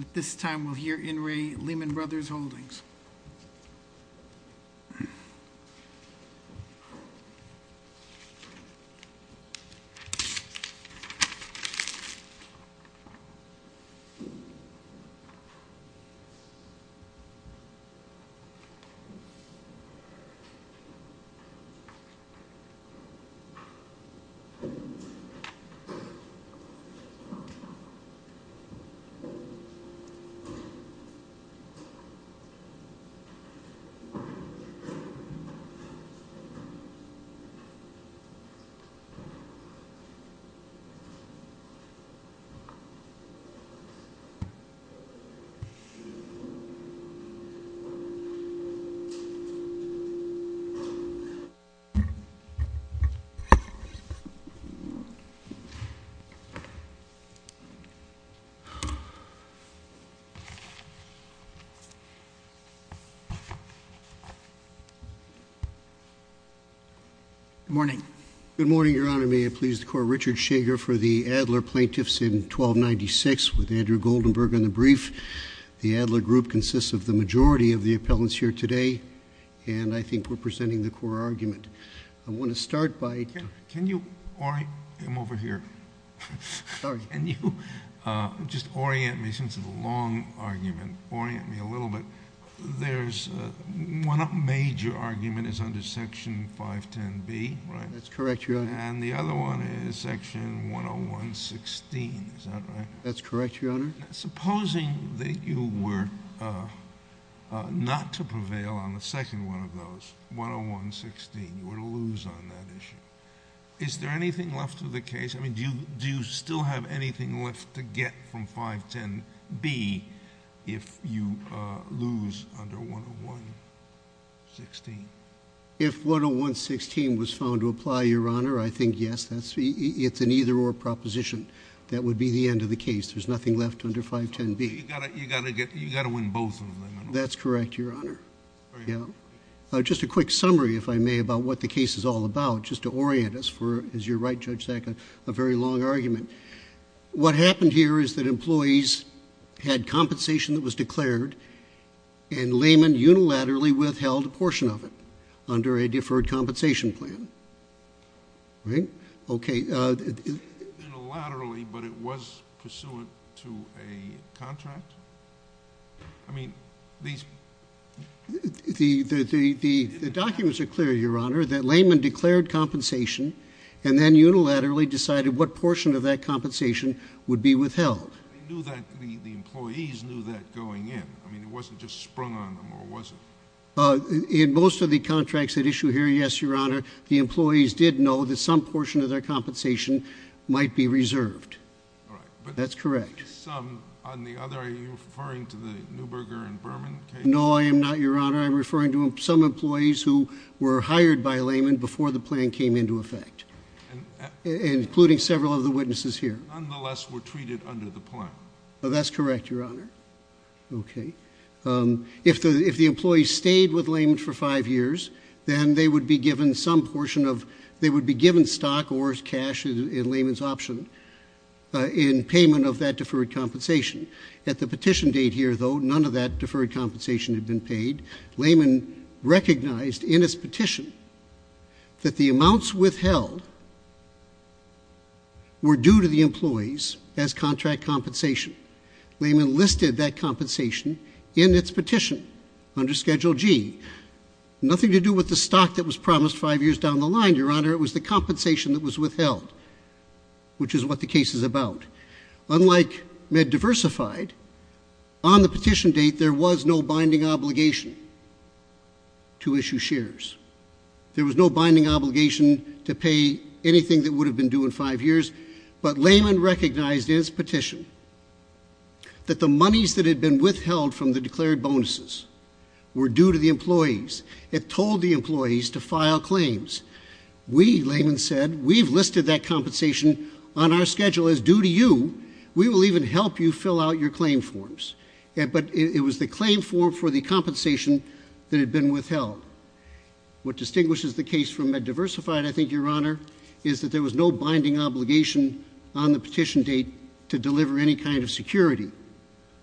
At this time, we'll hear In re Lehman Brothers Holdings. Good morning, Your Honor, may it please the Court, Richard Shager for the Adler Plaintiffs in 1296 with Andrew Goldenberg on the brief. The Adler group consists of the majority of the appellants here today, and I think we're presenting the core argument. I want to start by... Can you orient... I'm over here. Sorry. Can you just orient me, since it's a long argument, orient me a little bit. There's one major argument is under Section 510B, right? That's correct, Your Honor. And the other one is Section 10116, is that right? That's correct, Your Honor. Supposing that you were not to prevail on the second one of those, 10116, you were to lose on that issue. Is there anything left of the case? I mean, do you still have anything left to get from 510B if you lose under 10116? If 10116 was found to apply, Your Honor, I think, yes, it's an either-or proposition. That would be the end of the case. There's nothing left under 510B. You've got to win both of them. That's correct, Your Honor. Just a quick summary, if I may, about what the case is all about, just to orient us. As you're right, Judge Sack, a very long argument. What happened here is that employees had compensation that was declared, and Lehman unilaterally withheld a portion of it under a deferred compensation plan. Right? Okay. Unilaterally, but it was pursuant to a contract? I mean, these... The documents are clear, Your Honor. That Lehman declared compensation, and then unilaterally decided what portion of that compensation would be withheld. They knew that... The employees knew that going in. I mean, it wasn't just sprung on them, or was it? In most of the contracts at issue here, yes, Your Honor. The employees did know that some portion of their compensation might be reserved. All right. That's correct. Some. On the other, are you referring to the Neuberger and Berman case? No, I am not, Your Honor. I am referring to some employees who were hired by Lehman before the plan came into effect, including several of the witnesses here. Nonetheless, were treated under the plan. That's correct, Your Honor. Okay. If the employees stayed with Lehman for five years, then they would be given some portion of... They would be given stock or cash in Lehman's option in payment of that deferred compensation. At the petition date here, though, none of that deferred compensation had been paid. Lehman recognized in its petition that the amounts withheld were due to the employees as contract compensation. Lehman listed that compensation in its petition under Schedule G. Nothing to do with the stock that was promised five years down the line, Your Honor. It was the compensation that was withheld, which is what the case is about. Unlike MedDiversified, on the petition date, there was no binding obligation to issue shares. There was no binding obligation to pay anything that would have been due in five years. But Lehman recognized in its petition that the monies that had been withheld from the declared bonuses were due to the employees. It told the employees to file claims. We, Lehman said, we've listed that compensation on our schedule as due to you. We will even help you fill out your claim forms. But it was the claim form for the compensation that had been withheld. What distinguishes the case from MedDiversified, I think, Your Honor, is that there was no binding obligation on the petition date to deliver any kind of security.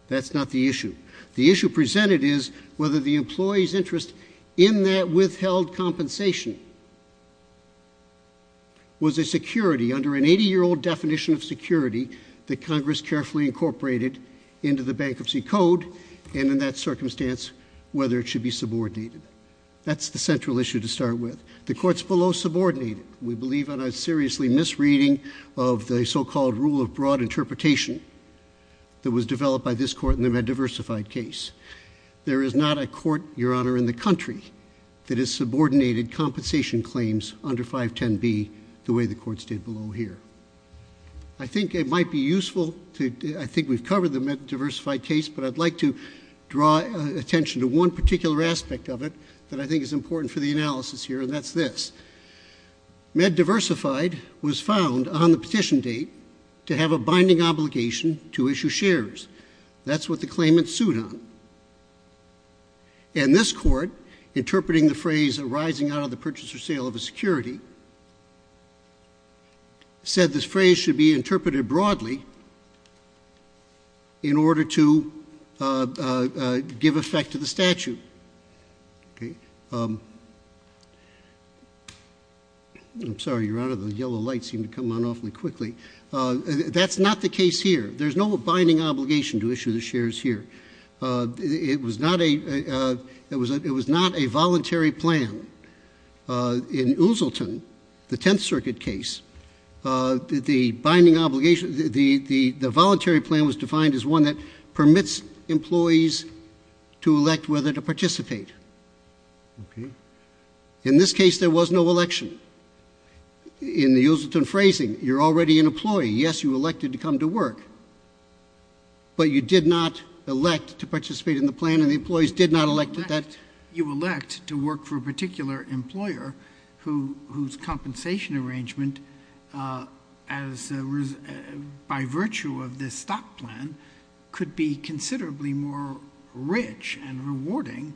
That's not the issue. The issue presented is whether the employee's interest in that withheld compensation was a security under an 80-year-old definition of security that Congress carefully incorporated into the Bankruptcy Code, and in that circumstance, whether it should be subordinated. That's the central issue to start with. The Court's below subordinated. We believe in a seriously misreading of the so-called rule of broad interpretation that was developed by this Court in the MedDiversified case. There is not a court, Your Honor, in the country that has subordinated compensation claims under 510B the way the Court's did below here. I think it might be useful to—I think we've covered the MedDiversified case, but I'd like to draw attention to one particular aspect of it that I think is important for the analysis here, and that's this. MedDiversified was found on the petition date to have a binding obligation to issue shares. That's what the claimants sued on. And this Court, interpreting the phrase arising out of the purchase or sale of a security, said this phrase should be interpreted broadly in order to give effect to the statute. I'm sorry, Your Honor, the yellow lights seem to come on awfully quickly. That's not the case here. There's no binding obligation to issue the shares here. It was not a voluntary plan. In Oozleton, the Tenth Circuit case, the binding obligation—the voluntary plan was defined as one that permits employees to elect whether to participate. In this case, there was no election. In the Oozleton phrasing, you're already an employee. Yes, you elected to come to work, but you did not elect to participate in the plan and the employees did not elect to that— You elect to work for a particular employer whose compensation arrangement, by virtue of this stock plan, could be considerably more rich and rewarding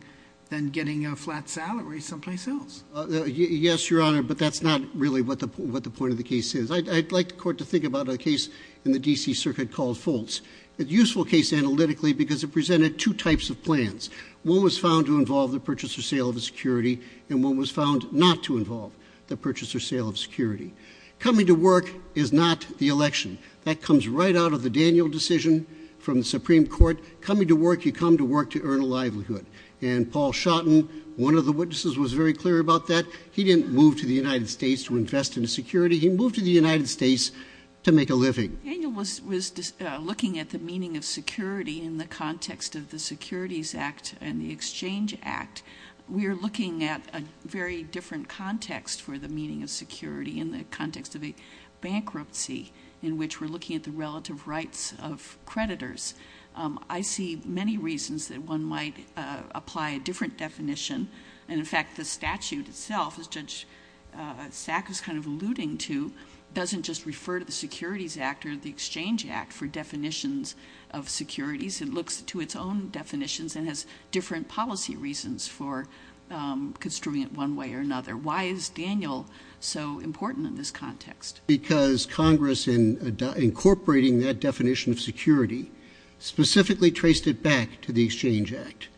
than getting a flat salary someplace else. Yes, Your Honor, but that's not really what the point of the case is. I'd like the Court to think about a case in the D.C. Circuit called Foltz. It's a useful case analytically because it presented two types of plans. One was found to involve the purchase or sale of a security, and one was found not to involve the purchase or sale of a security. Coming to work is not the election. That comes right out of the Daniel decision from the Supreme Court. Coming to work, you come to work to earn a livelihood. And Paul Shotton, one of the witnesses, was very clear about that. He didn't move to the United States to invest in security. He moved to the United States to make a living. Daniel was looking at the meaning of security in the context of the Securities Act and the Exchange Act. We are looking at a very different context for the meaning of security in the context of a bankruptcy in which we're looking at the relative rights of creditors. I see many reasons that one might apply a different definition, and in fact, the statute itself, as Judge Sack is kind of alluding to, doesn't just refer to the Securities Act or the Exchange Act for definitions of securities. It looks to its own definitions and has different policy reasons for construing it one way or another. Why is Daniel so important in this context? Because Congress, in incorporating that definition of security, specifically traced it back to the Exchange Act.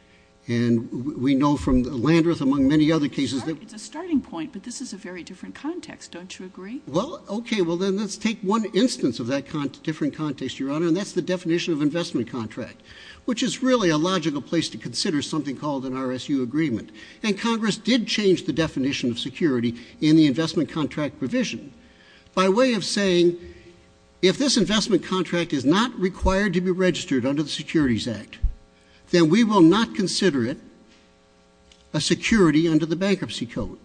And we know from Landreth, among many other cases that— It's a starting point, but this is a very different context. Don't you agree? Well, okay. Well, then let's take one instance of that different context, Your Honor, and that's the definition of investment contract, which is really a logical place to consider something called an RSU agreement. And Congress did change the definition of security in the investment contract provision by way of saying, if this investment contract is not required to be registered under the Securities Act, then we will not consider it a security under the Bankruptcy Code.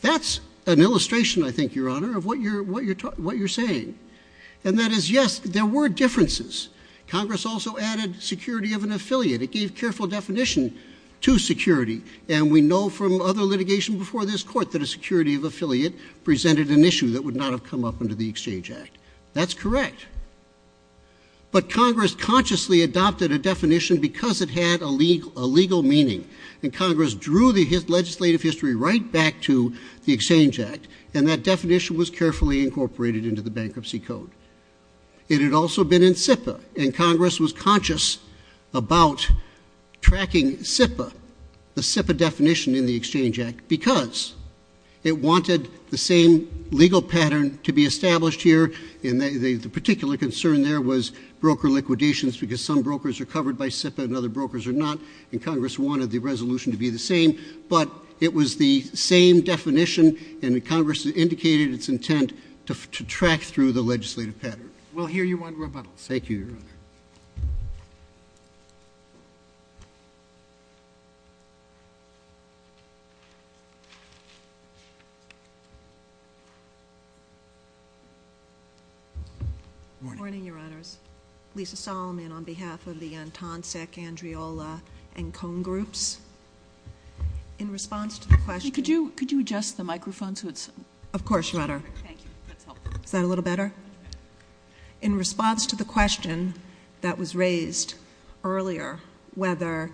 That's an illustration, I think, Your Honor, of what you're saying. And that is, yes, there were differences. Congress also added security of an affiliate. It gave careful definition to security. And we know from other litigation before this Court that a security of affiliate presented an issue that would not have come up under the Exchange Act. That's correct. But Congress consciously adopted a definition because it had a legal meaning. And Congress drew the legislative history right back to the Exchange Act, and that definition was carefully incorporated into the Bankruptcy Code. It had also been in SIPA, and Congress was conscious about tracking SIPA, the SIPA definition in the Exchange Act, because it wanted the same legal pattern to be established here. And the particular concern there was broker liquidations, because some brokers are covered by SIPA and other brokers are not, and Congress wanted the resolution to be the same. But it was the same definition, and Congress indicated its intent to track through the legislative pattern. We'll hear you on rebuttals. Thank you, Your Honor. Morning. Morning, Your Honors. Lisa Solomon on behalf of the Antonsec, Andriola, and Cone Groups. In response to the question— Could you adjust the microphone so it's— Of course, Your Honor. Thank you. That's helpful. Is that a little better? In response to the question that was raised earlier, whether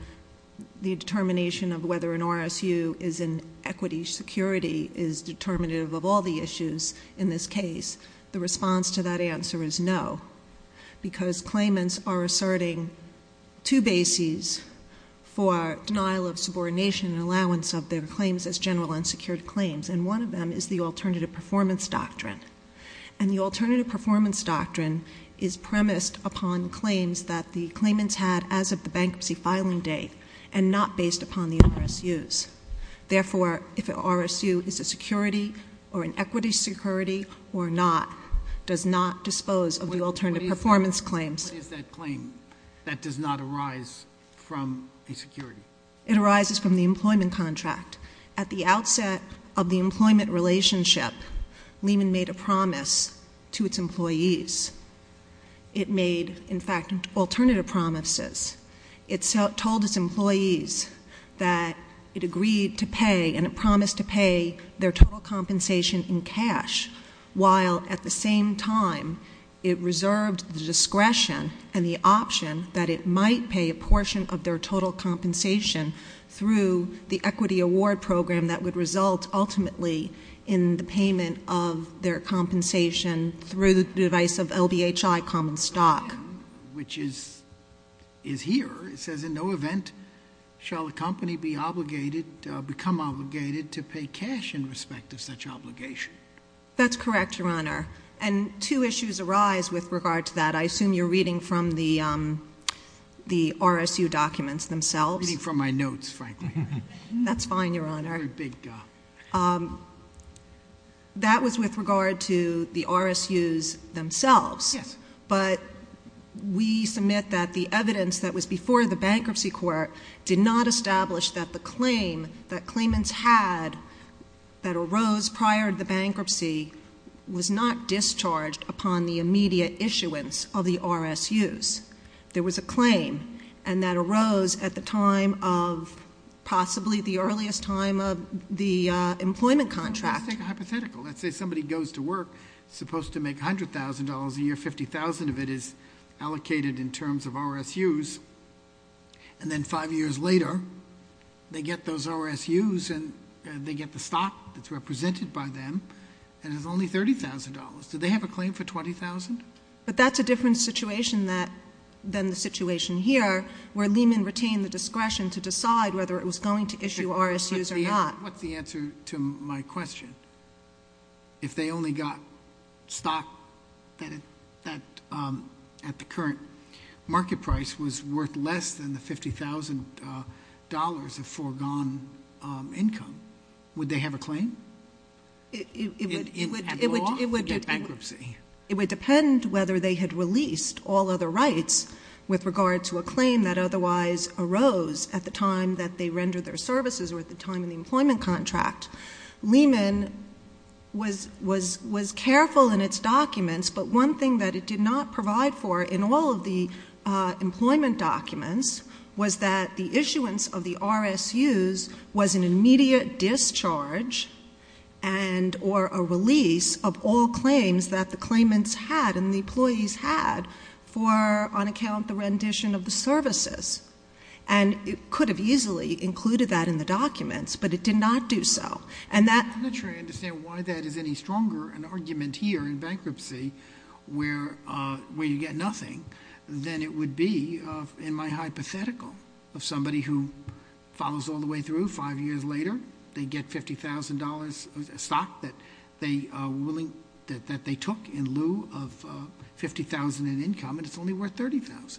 the determination of whether an RSU is in equity security is determinative of all the issues in this case, the response to that answer is no, because claimants are asserting two bases for denial of subordination and allowance of their claims as general unsecured claims, and one of them is the alternative performance doctrine. And the alternative performance doctrine is premised upon claims that the claimants had as of the bankruptcy filing date and not based upon the RSUs. Therefore, if an RSU is a security or an equity security or not, does not dispose of the alternative performance claims— What is that claim that does not arise from the security? It arises from the employment contract. At the outset of the employment relationship, Lehman made a promise to its employees. It made, in fact, alternative promises. It told its employees that it agreed to pay and it promised to pay their total compensation in cash, while at the same time it reserved the discretion and the option that it might pay a portion of their total compensation through the equity award program that would result ultimately in the payment of their compensation through the device of LBHI common stock. Which is here. It says, in no event shall a company become obligated to pay cash in respect of such obligation. That's correct, Your Honor, and two issues arise with regard to that. I assume you're reading from the RSU documents themselves. I'm reading from my notes, frankly. That's fine, Your Honor. That was with regard to the RSUs themselves, but we submit that the evidence that was before the bankruptcy court did not establish that the claim that claimants had that arose prior to the bankruptcy was not discharged upon the immediate issuance of the RSUs. There was a claim, and that arose at the time of possibly the earliest time of the employment contract. Let's take a hypothetical. Let's say somebody goes to work, supposed to make $100,000 a year, $50,000 of it is allocated in terms of RSUs, and then five years later, they get those RSUs and they pay them, and it's only $30,000. Do they have a claim for $20,000? But that's a different situation than the situation here, where Lehman retained the discretion to decide whether it was going to issue RSUs or not. What's the answer to my question? If they only got stock at the current market price was worth less than the $50,000 of foregone income, would they have a claim? It would depend whether they had released all other rights with regard to a claim that otherwise arose at the time that they rendered their services or at the time of the employment contract. Lehman was careful in its documents, but one thing that it did not provide for in all of the employment documents was that the issuance of the RSUs was an immediate discharge and or a release of all claims that the claimants had and the employees had for, on account the rendition of the services, and it could have easily included that in the documents, but it did not do so. I'm not sure I understand why that is any stronger, an argument here in bankruptcy where you get nothing, than it would be in my hypothetical of somebody who follows all the way through. Five years later, they get $50,000 of stock that they took in lieu of $50,000 in income and it's only worth $30,000.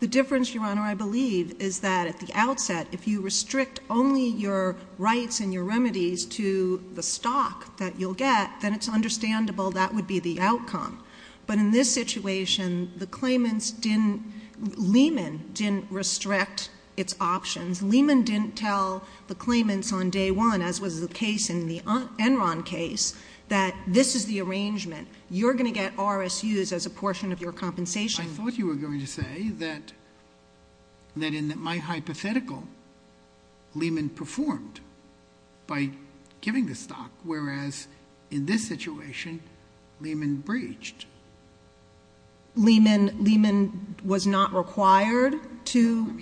The difference, Your Honor, I believe is that at the outset, if you restrict only your rights and your remedies to the stock that you'll get, then it's understandable that would be the outcome. But in this situation, the claimants didn't, Lehman didn't restrict its options. Lehman didn't tell the claimants on day one, as was the case in the Enron case, that this is the arrangement. You're going to get RSUs as a portion of your compensation. I thought you were going to say that in my hypothetical, Lehman performed by giving the stock, whereas in this situation, Lehman breached. Lehman was not required to-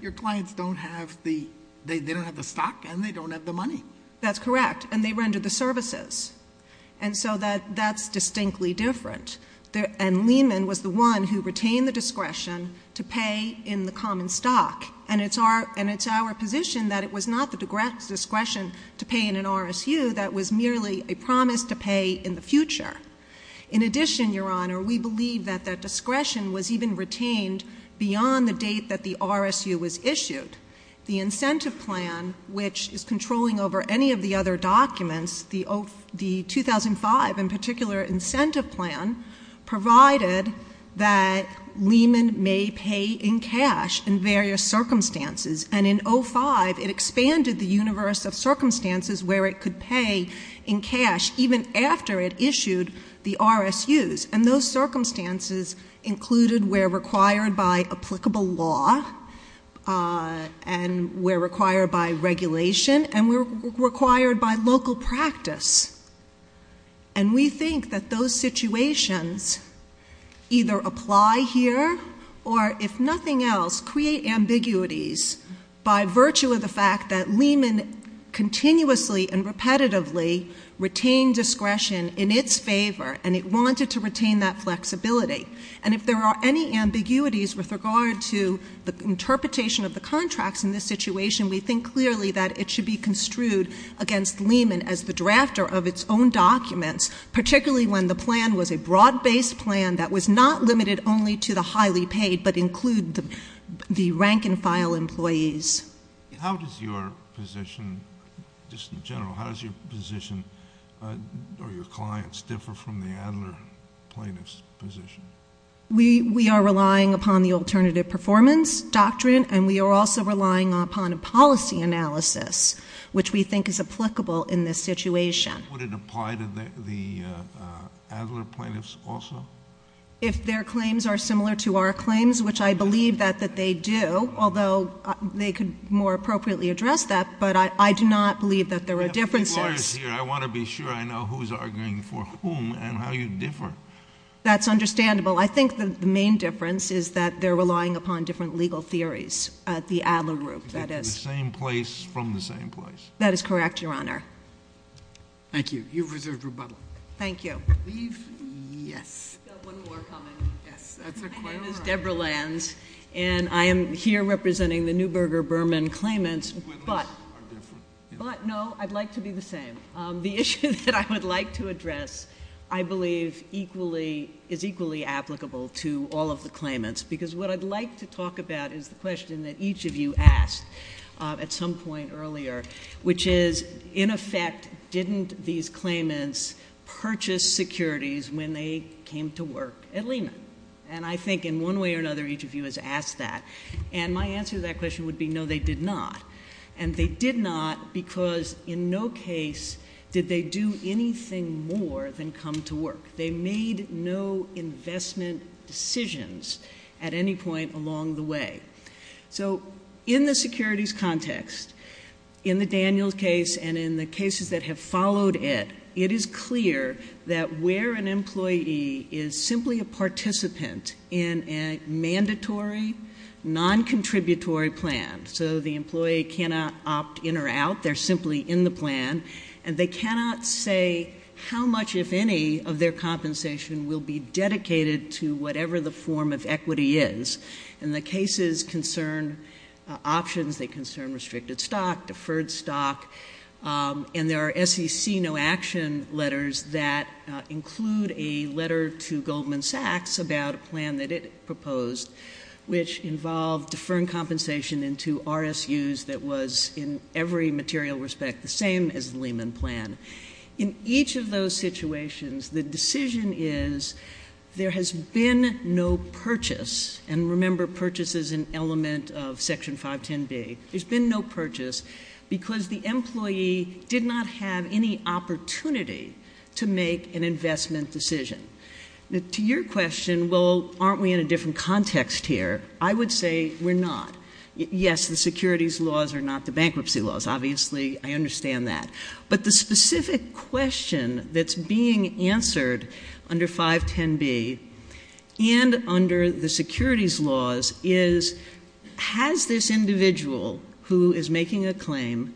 Your clients don't have the, they don't have the stock and they don't have the money. That's correct, and they rendered the services. And so that's distinctly different. And Lehman was the one who retained the discretion to pay in the common stock. And it's our position that it was not the discretion to pay in an RSU that was merely a promise to pay in the future. In addition, Your Honor, we believe that that discretion was even retained beyond the date that the RSU was issued. The incentive plan, which is controlling over any of the other documents, the 2005 in particular incentive plan provided that Lehman may pay in cash in various circumstances. And in 05, it expanded the universe of circumstances where it could pay in cash, even after it issued the RSUs, and those circumstances included where required by applicable law. And where required by regulation, and where required by local practice. And we think that those situations either apply here, or if nothing else, create ambiguities by virtue of the fact that Lehman continuously and repetitively retained discretion in its favor, and it wanted to retain that flexibility. And if there are any ambiguities with regard to the interpretation of the contracts in this situation, we think clearly that it should be construed against Lehman as the drafter of its own documents. Particularly when the plan was a broad based plan that was not limited only to the highly paid, but include the rank and file employees. How does your position, just in general, how does your position or your clients differ from the Adler plaintiff's position? We are relying upon the alternative performance doctrine, and we are also relying upon a policy analysis, which we think is applicable in this situation. Would it apply to the Adler plaintiffs also? If their claims are similar to our claims, which I believe that they do, although they could more appropriately address that, but I do not believe that there are differences. I want to be sure I know who's arguing for whom and how you differ. That's understandable. I think that the main difference is that they're relying upon different legal theories at the Adler group, that is. The same place from the same place. That is correct, Your Honor. Thank you. You've reserved rebuttal. Thank you. I believe, yes. We've got one more coming. Yes, that's a quite a lot. My name is Debra Lanz, and I am here representing the Neuberger-Berman claimants, but no, I'd like to be the same. The issue that I would like to address, I believe, is equally applicable to all of the claimants. Because what I'd like to talk about is the question that each of you asked at some point earlier, which is, in effect, didn't these claimants purchase securities when they came to work at Lehman? And I think in one way or another, each of you has asked that. And my answer to that question would be no, they did not. And they did not because in no case did they do anything more than come to work. They made no investment decisions at any point along the way. So in the securities context, in the Daniels case and in the cases that have followed it, it is clear that where an employee is simply a participant in a mandatory, non-contributory plan, so the employee cannot opt in or out, they're simply in the plan. And they cannot say how much, if any, of their compensation will be dedicated to whatever the form of equity is. And the cases concern options, they concern restricted stock, deferred stock. And there are SEC no action letters that include a letter to Goldman Sachs about a plan that it proposed, which involved deferring compensation into RSUs that was, in every material respect, the same as the Lehman plan. In each of those situations, the decision is, there has been no purchase, and remember, purchase is an element of section 510B. There's been no purchase because the employee did not have any opportunity to make an investment decision. To your question, well, aren't we in a different context here? I would say we're not. Yes, the securities laws are not the bankruptcy laws. Obviously, I understand that. But the specific question that's being answered under 510B and under the securities laws is, has this individual who is making a claim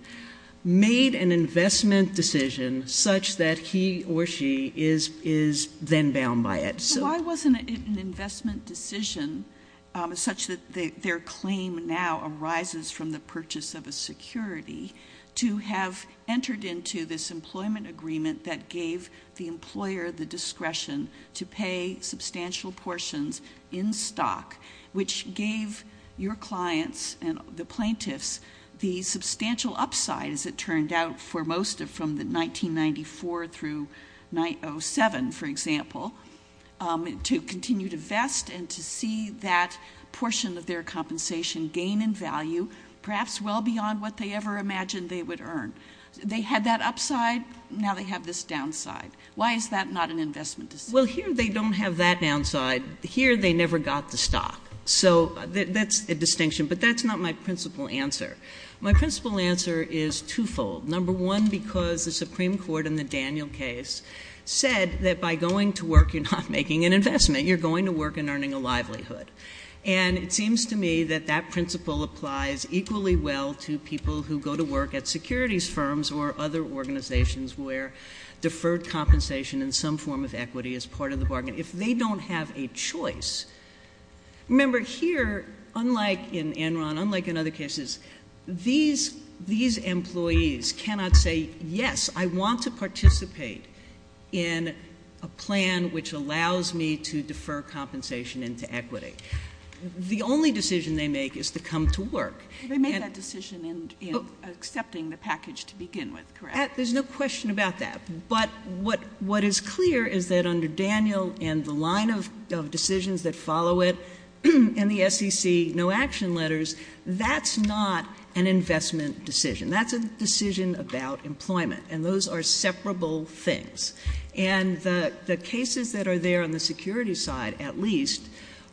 made an investment decision such that he or she is then bound by it? So- Why wasn't it an investment decision such that their claim now arises from the purchase of a security to have entered into this employment agreement that gave the employer the discretion to pay substantial portions in stock, which gave your clients and the plaintiffs the substantial upside, as it turned out, for most of from the 1994 through 907, for example. To continue to vest and to see that portion of their compensation gain in value, perhaps well beyond what they ever imagined they would earn. They had that upside, now they have this downside. Why is that not an investment decision? Well, here they don't have that downside. Here they never got the stock. So that's a distinction, but that's not my principal answer. My principal answer is twofold. Number one, because the Supreme Court in the Daniel case said that by going to work, you're not making an investment. You're going to work and earning a livelihood. And it seems to me that that principle applies equally well to people who go to work at securities firms or other organizations where deferred compensation in some form of equity is part of the bargain. If they don't have a choice, remember here, unlike in Enron, unlike in other cases, these employees cannot say, yes, I want to participate in a plan which allows me to defer compensation into equity. The only decision they make is to come to work. They made that decision in accepting the package to begin with, correct? There's no question about that. But what is clear is that under Daniel and the line of decisions that follow it, and the SEC no action letters, that's not an investment decision. That's a decision about employment, and those are separable things. And the cases that are there on the security side, at least,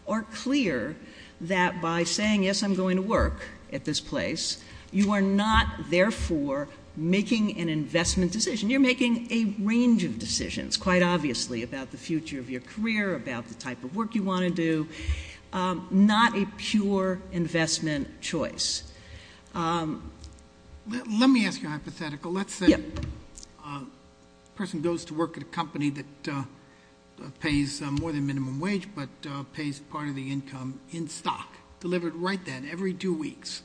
are clear that by saying, yes, I'm going to work at this place, you are not therefore making an investment decision. You're making a range of decisions, quite obviously, about the future of your career, about the type of work you want to do, not a pure investment choice. Let me ask you a hypothetical. Let's say a person goes to work at a company that pays more than minimum wage, but pays part of the income in stock, delivered right then, every two weeks.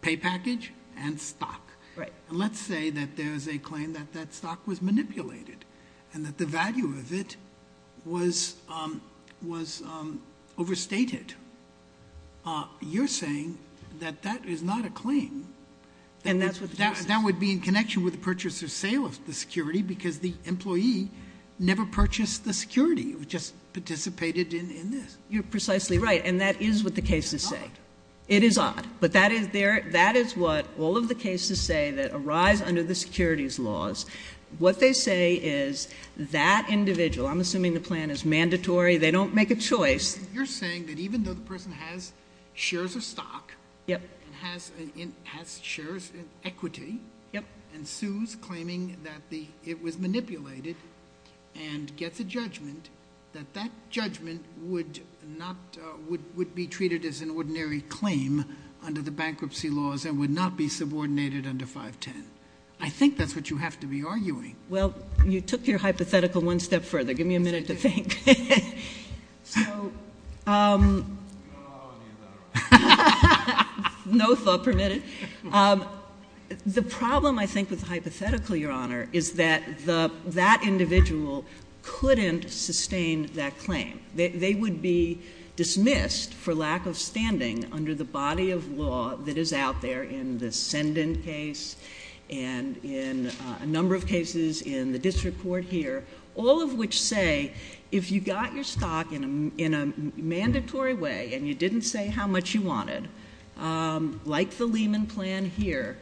Pay package and stock. And let's say that there's a claim that that stock was manipulated, and that the value of it was overstated. You're saying that that is not a claim. And that's what the case says. That would be in connection with the purchase or sale of the security, because the employee never purchased the security, it just participated in this. You're precisely right, and that is what the cases say. It is odd, but that is what all of the cases say that arise under the securities laws. What they say is that individual, I'm assuming the plan is mandatory, they don't make a choice. You're saying that even though the person has shares of stock, and has shares in equity, and sues, claiming that it was manipulated, and gets a judgment, that that judgment would be treated as an ordinary claim under the bankruptcy laws, and would not be subordinated under 510. I think that's what you have to be arguing. Well, you took your hypothetical one step further. Give me a minute to think. So- You don't know how many you've got, right? No thought permitted. The problem, I think, with the hypothetical, Your Honor, is that that individual couldn't sustain that claim. They would be dismissed for lack of standing under the body of law that is out there in the Send-In case, and in a number of cases in the district court here, all of which say, if you got your stock in a mandatory way, and you didn't say how much you wanted, like the Lehman plan here,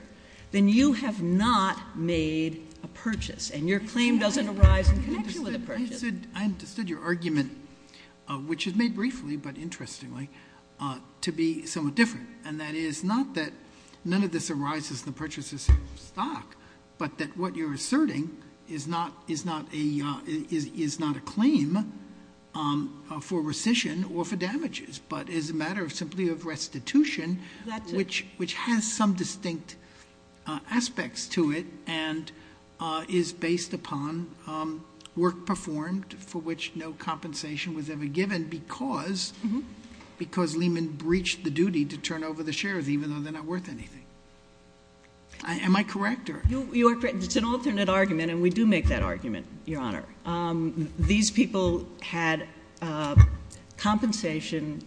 then you have not made a purchase. And your claim doesn't arise in connection with the purchase. I understood your argument, which is made briefly, but interestingly, to be somewhat different. And that is not that none of this arises in the purchase of stock, but that what you're asserting is not a claim for rescission or for damages, but is a matter of simply of restitution, which has some distinct aspects to it, and is based upon work performed for which no compensation was ever given, because Lehman breached the duty to turn over the shares, even though they're not worth anything. Am I correct, or? It's an alternate argument, and we do make that argument, your honor. These people had compensation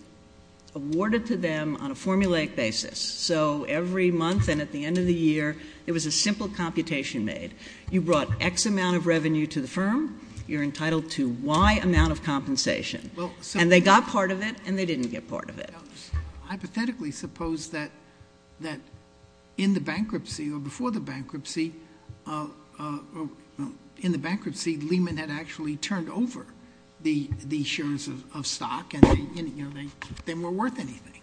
awarded to them on a formulaic basis. So every month and at the end of the year, it was a simple computation made. You brought X amount of revenue to the firm, you're entitled to Y amount of compensation. And they got part of it, and they didn't get part of it. Hypothetically, suppose that in the bankruptcy or before the bankruptcy, in the bankruptcy, Lehman had actually turned over the shares of stock, and they weren't worth anything.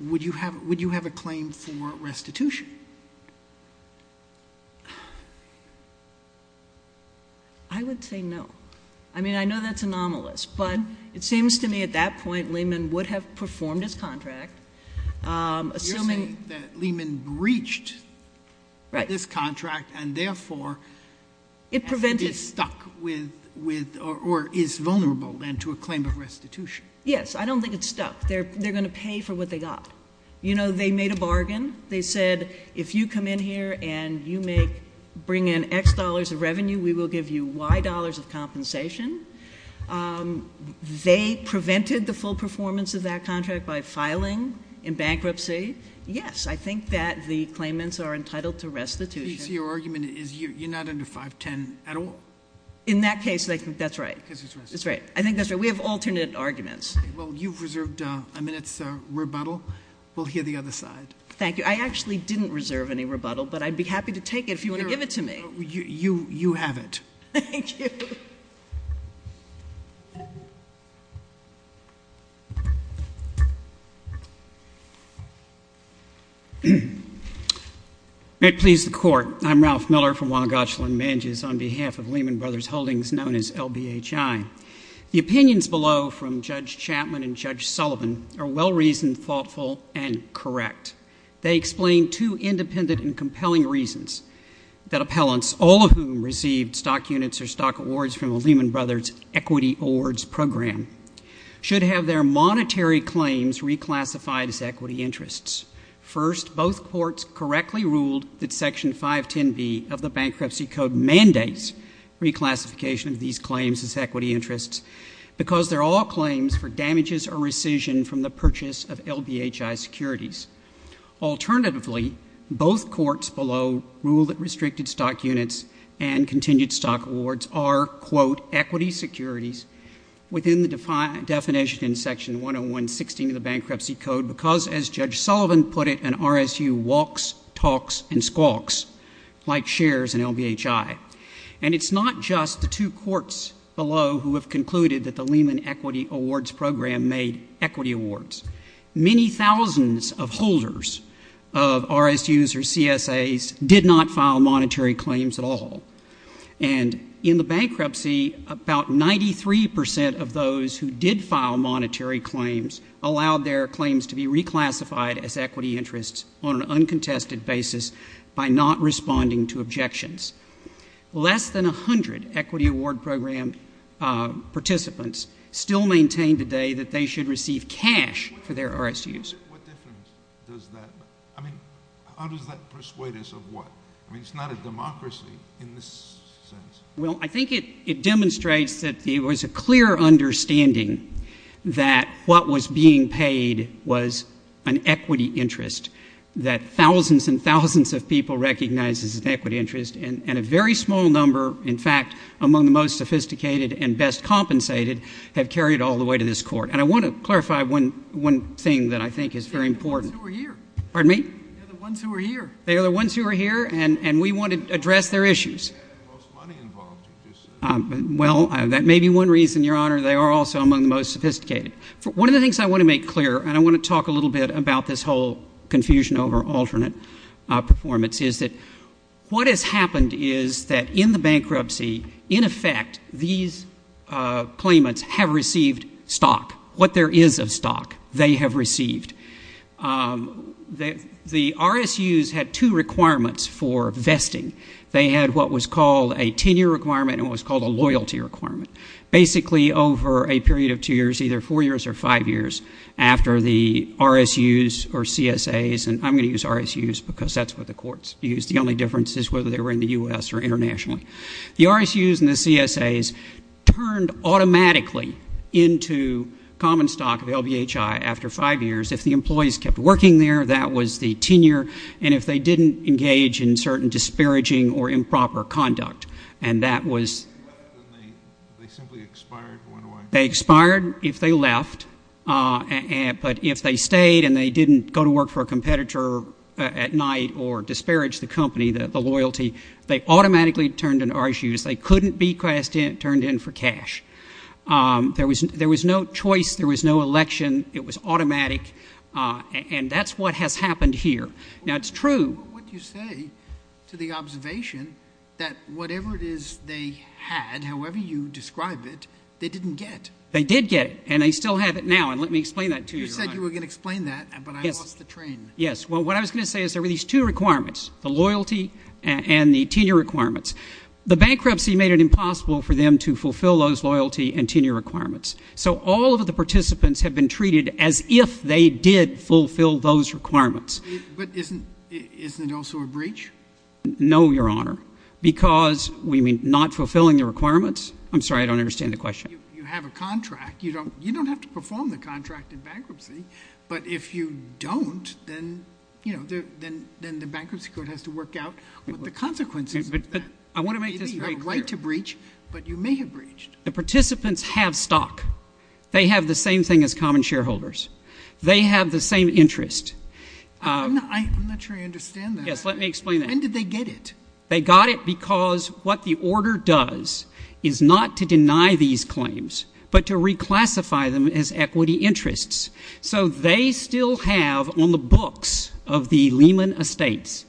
Would you have a claim for restitution? I would say no. I mean, I know that's anomalous, but it seems to me at that point, Lehman would have performed his contract, assuming- You're saying that Lehman breached this contract, and therefore- It prevented- Is stuck with, or is vulnerable, then, to a claim of restitution. Yes, I don't think it's stuck. They're going to pay for what they got. You know, they made a bargain. They said, if you come in here and you bring in X dollars of revenue, we will give you Y dollars of compensation. They prevented the full performance of that contract by filing in bankruptcy. Yes, I think that the claimants are entitled to restitution. So your argument is you're not under 510 at all? In that case, that's right. Because it's restitution. That's right. I think that's right. We have alternate arguments. Well, you've reserved a minute's rebuttal. We'll hear the other side. Thank you. I actually didn't reserve any rebuttal, but I'd be happy to take it if you want to give it to me. You have it. Thank you. May it please the court. I'm Ralph Miller from Wongotchlin Manges on behalf of Lehman Brothers Holdings, known as LBHI. The opinions below from Judge Chapman and Judge Sullivan are well-reasoned, thoughtful, and correct. They explain two independent and compelling reasons that appellants, all of whom received stock units or stock awards from a Lehman Brothers equity awards program, should have their monetary claims reclassified as equity interests. First, both courts correctly ruled that Section 510B of the Bankruptcy Code mandates reclassification of these claims as equity interests because they're all claims for damages or rescission from the purchase of LBHI securities. Alternatively, both courts below ruled that restricted stock units and continued stock awards are, quote, equity securities within the definition in Section 10116 of the Bankruptcy Code because, as Judge Sullivan put it, an RSU walks, talks, and squawks, like shares in LBHI. And it's not just the two courts below who have concluded that the Lehman Equity Awards Program made equity awards. Many thousands of holders of RSUs or CSAs did not file monetary claims at all. And in the bankruptcy, about 93% of those who did file monetary claims allowed their claims to be reclassified as equity interests on an uncontested basis by not responding to objections. Less than 100 Equity Award Program participants still maintain today that they should receive cash for their RSUs. What difference does that make? I mean, how does that persuade us of what? I mean, it's not a democracy in this sense. Well, I think it demonstrates that there was a clear understanding that what was being paid was an equity interest, that thousands and thousands of people recognized this as an equity interest, and a very small number, in fact, among the most sophisticated and best compensated, have carried it all the way to this court. And I want to clarify one thing that I think is very important. They're the ones who are here. Pardon me? They're the ones who are here. They are the ones who are here, and we want to address their issues. They had the most money involved, you just said. Well, that may be one reason, Your Honor. They are also among the most sophisticated. One of the things I want to make clear, and I want to talk a little bit about this whole confusion over alternate performance, is that what has happened is that in the bankruptcy, in effect, these claimants have received stock. What there is of stock, they have received. The RSUs had two requirements for vesting. They had what was called a tenure requirement and what was called a loyalty requirement. Basically, over a period of two years, either four years or five years, after the RSUs or CSAs, and I'm going to use RSUs because that's what the courts use. The only difference is whether they were in the U.S. or internationally. The RSUs and the CSAs turned automatically into common stock, the LBHI, after five years. If the employees kept working there, that was the tenure. And if they didn't, engage in certain disparaging or improper conduct. And that was. They simply expired and went away. They expired if they left. But if they stayed and they didn't go to work for a competitor at night or disparage the company, the loyalty, they automatically turned into RSUs. They couldn't be turned in for cash. There was no choice. There was no election. It was automatic. And that's what has happened here. Now, it's true. What do you say to the observation that whatever it is they had, however you describe it, they didn't get? They did get it. And they still have it now. And let me explain that to you. You said you were going to explain that, but I lost the train. Yes. Well, what I was going to say is there were these two requirements, the loyalty and the tenure requirements. The bankruptcy made it impossible for them to fulfill those loyalty and tenure requirements. So all of the participants have been treated as if they did fulfill those requirements. But isn't it also a breach? No, Your Honor. Because we mean not fulfilling the requirements. I'm sorry. I don't understand the question. You have a contract. You don't have to perform the contract in bankruptcy. But if you don't, then, you know, then the bankruptcy code has to work out what the consequences of that. I want to make this very clear. You have a right to breach, but you may have breached. The participants have stock. They have the same thing as common shareholders. They have the same interest. I'm not sure I understand that. Yes, let me explain that. When did they get it? They got it because what the order does is not to deny these claims, but to reclassify them as equity interests. So they still have on the books of the Lehman Estates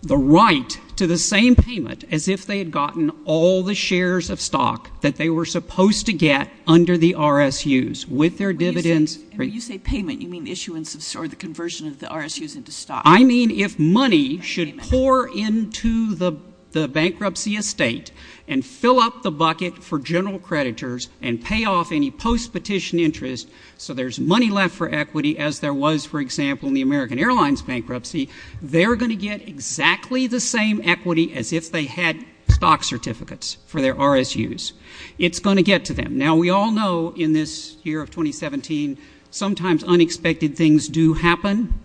the right to the same payment as if they had gotten all the shares of stock that they were supposed to get under the RSUs with their dividends. And when you say payment, you mean issuance or the conversion of the RSUs into stock? I mean if money should pour into the bankruptcy estate and fill up the bucket for general creditors and pay off any post-petition interest so there's money left for equity as there was, for example, in the American Airlines bankruptcy, they're going to get exactly the same equity as if they had stock certificates for their RSUs. It's going to get to them. Now we all know in this year of 2017, sometimes unexpected things do happen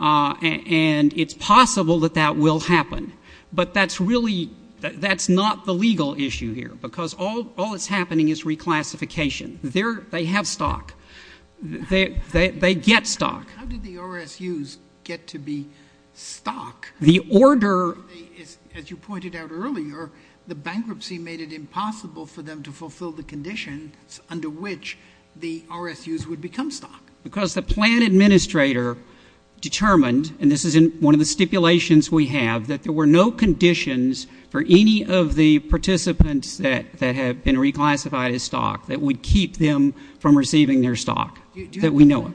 and it's possible that that will happen. But that's really, that's not the legal issue here because all that's happening is reclassification. They have stock. They get stock. How did the RSUs get to be stock? The order is, as you pointed out earlier, the bankruptcy made it impossible for them to fulfill the conditions under which the RSUs would become stock. Because the plan administrator determined, and this is in one of the stipulations we have, that there were no conditions for any of the participants that have been reclassified as stock that would keep them from receiving their stock, that we know of.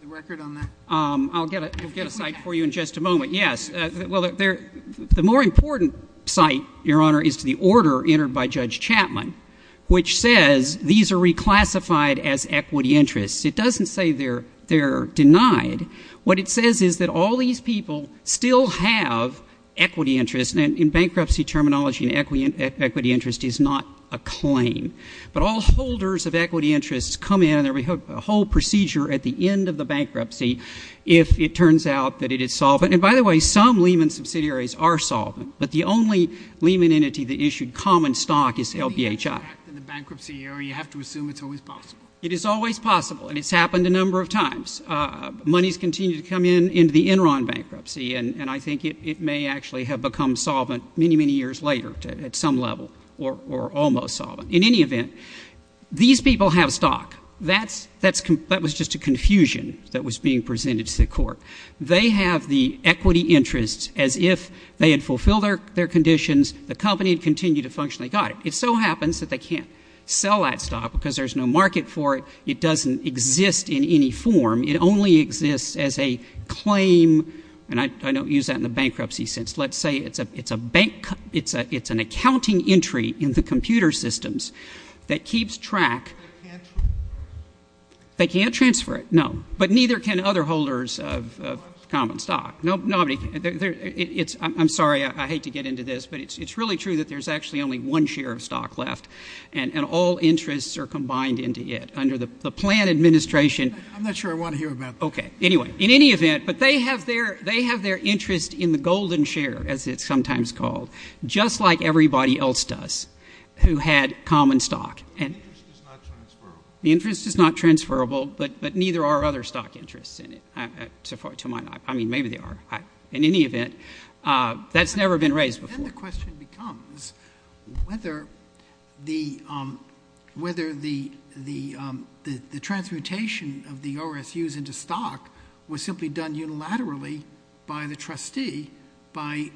The record on that? I'll get a site for you in just a moment. Yes. Well, the more important site, Your Honor, is to the order entered by Judge Chapman, which says these are reclassified as equity interests. It doesn't say they're denied. What it says is that all these people still have equity interests. And in bankruptcy terminology, an equity interest is not a claim. But all holders of equity interests come in and we have a whole procedure at the end of the bankruptcy if it turns out that it is solvent. And by the way, some Lehman subsidiaries are solvent. But the only Lehman entity that issued common stock is LBHI. So you have to act in the bankruptcy era. You have to assume it's always possible. It is always possible. And it's happened a number of times. Monies continue to come in into the Enron bankruptcy. And I think it may actually have become solvent many, many years later at some level, or almost solvent. In any event, these people have stock. That was just a confusion that was being presented to the court. They have the equity interests as if they had fulfilled their conditions, the company had continued to function, they got it. It so happens that they can't sell that stock because there's no market for it. It doesn't exist in any form. It only exists as a claim. And I don't use that in the bankruptcy sense. Let's say it's a bank, it's an accounting entry in the computer systems that keeps track. They can't transfer it, no. But neither can other holders of common stock. I'm sorry, I hate to get into this, but it's really true that there's actually only one share of stock left. And all interests are combined into it under the plan administration. I'm not sure I want to hear about that. Okay. Anyway, in any event, but they have their interest in the golden share, as it's sometimes called, just like everybody else does who had common stock. The interest is not transferable. But neither are other stock interests in it, to my knowledge. I mean, maybe they are. In any event, that's never been raised before. Then the question becomes whether the transmutation of the RSUs into stock was simply done unilaterally by the trustee by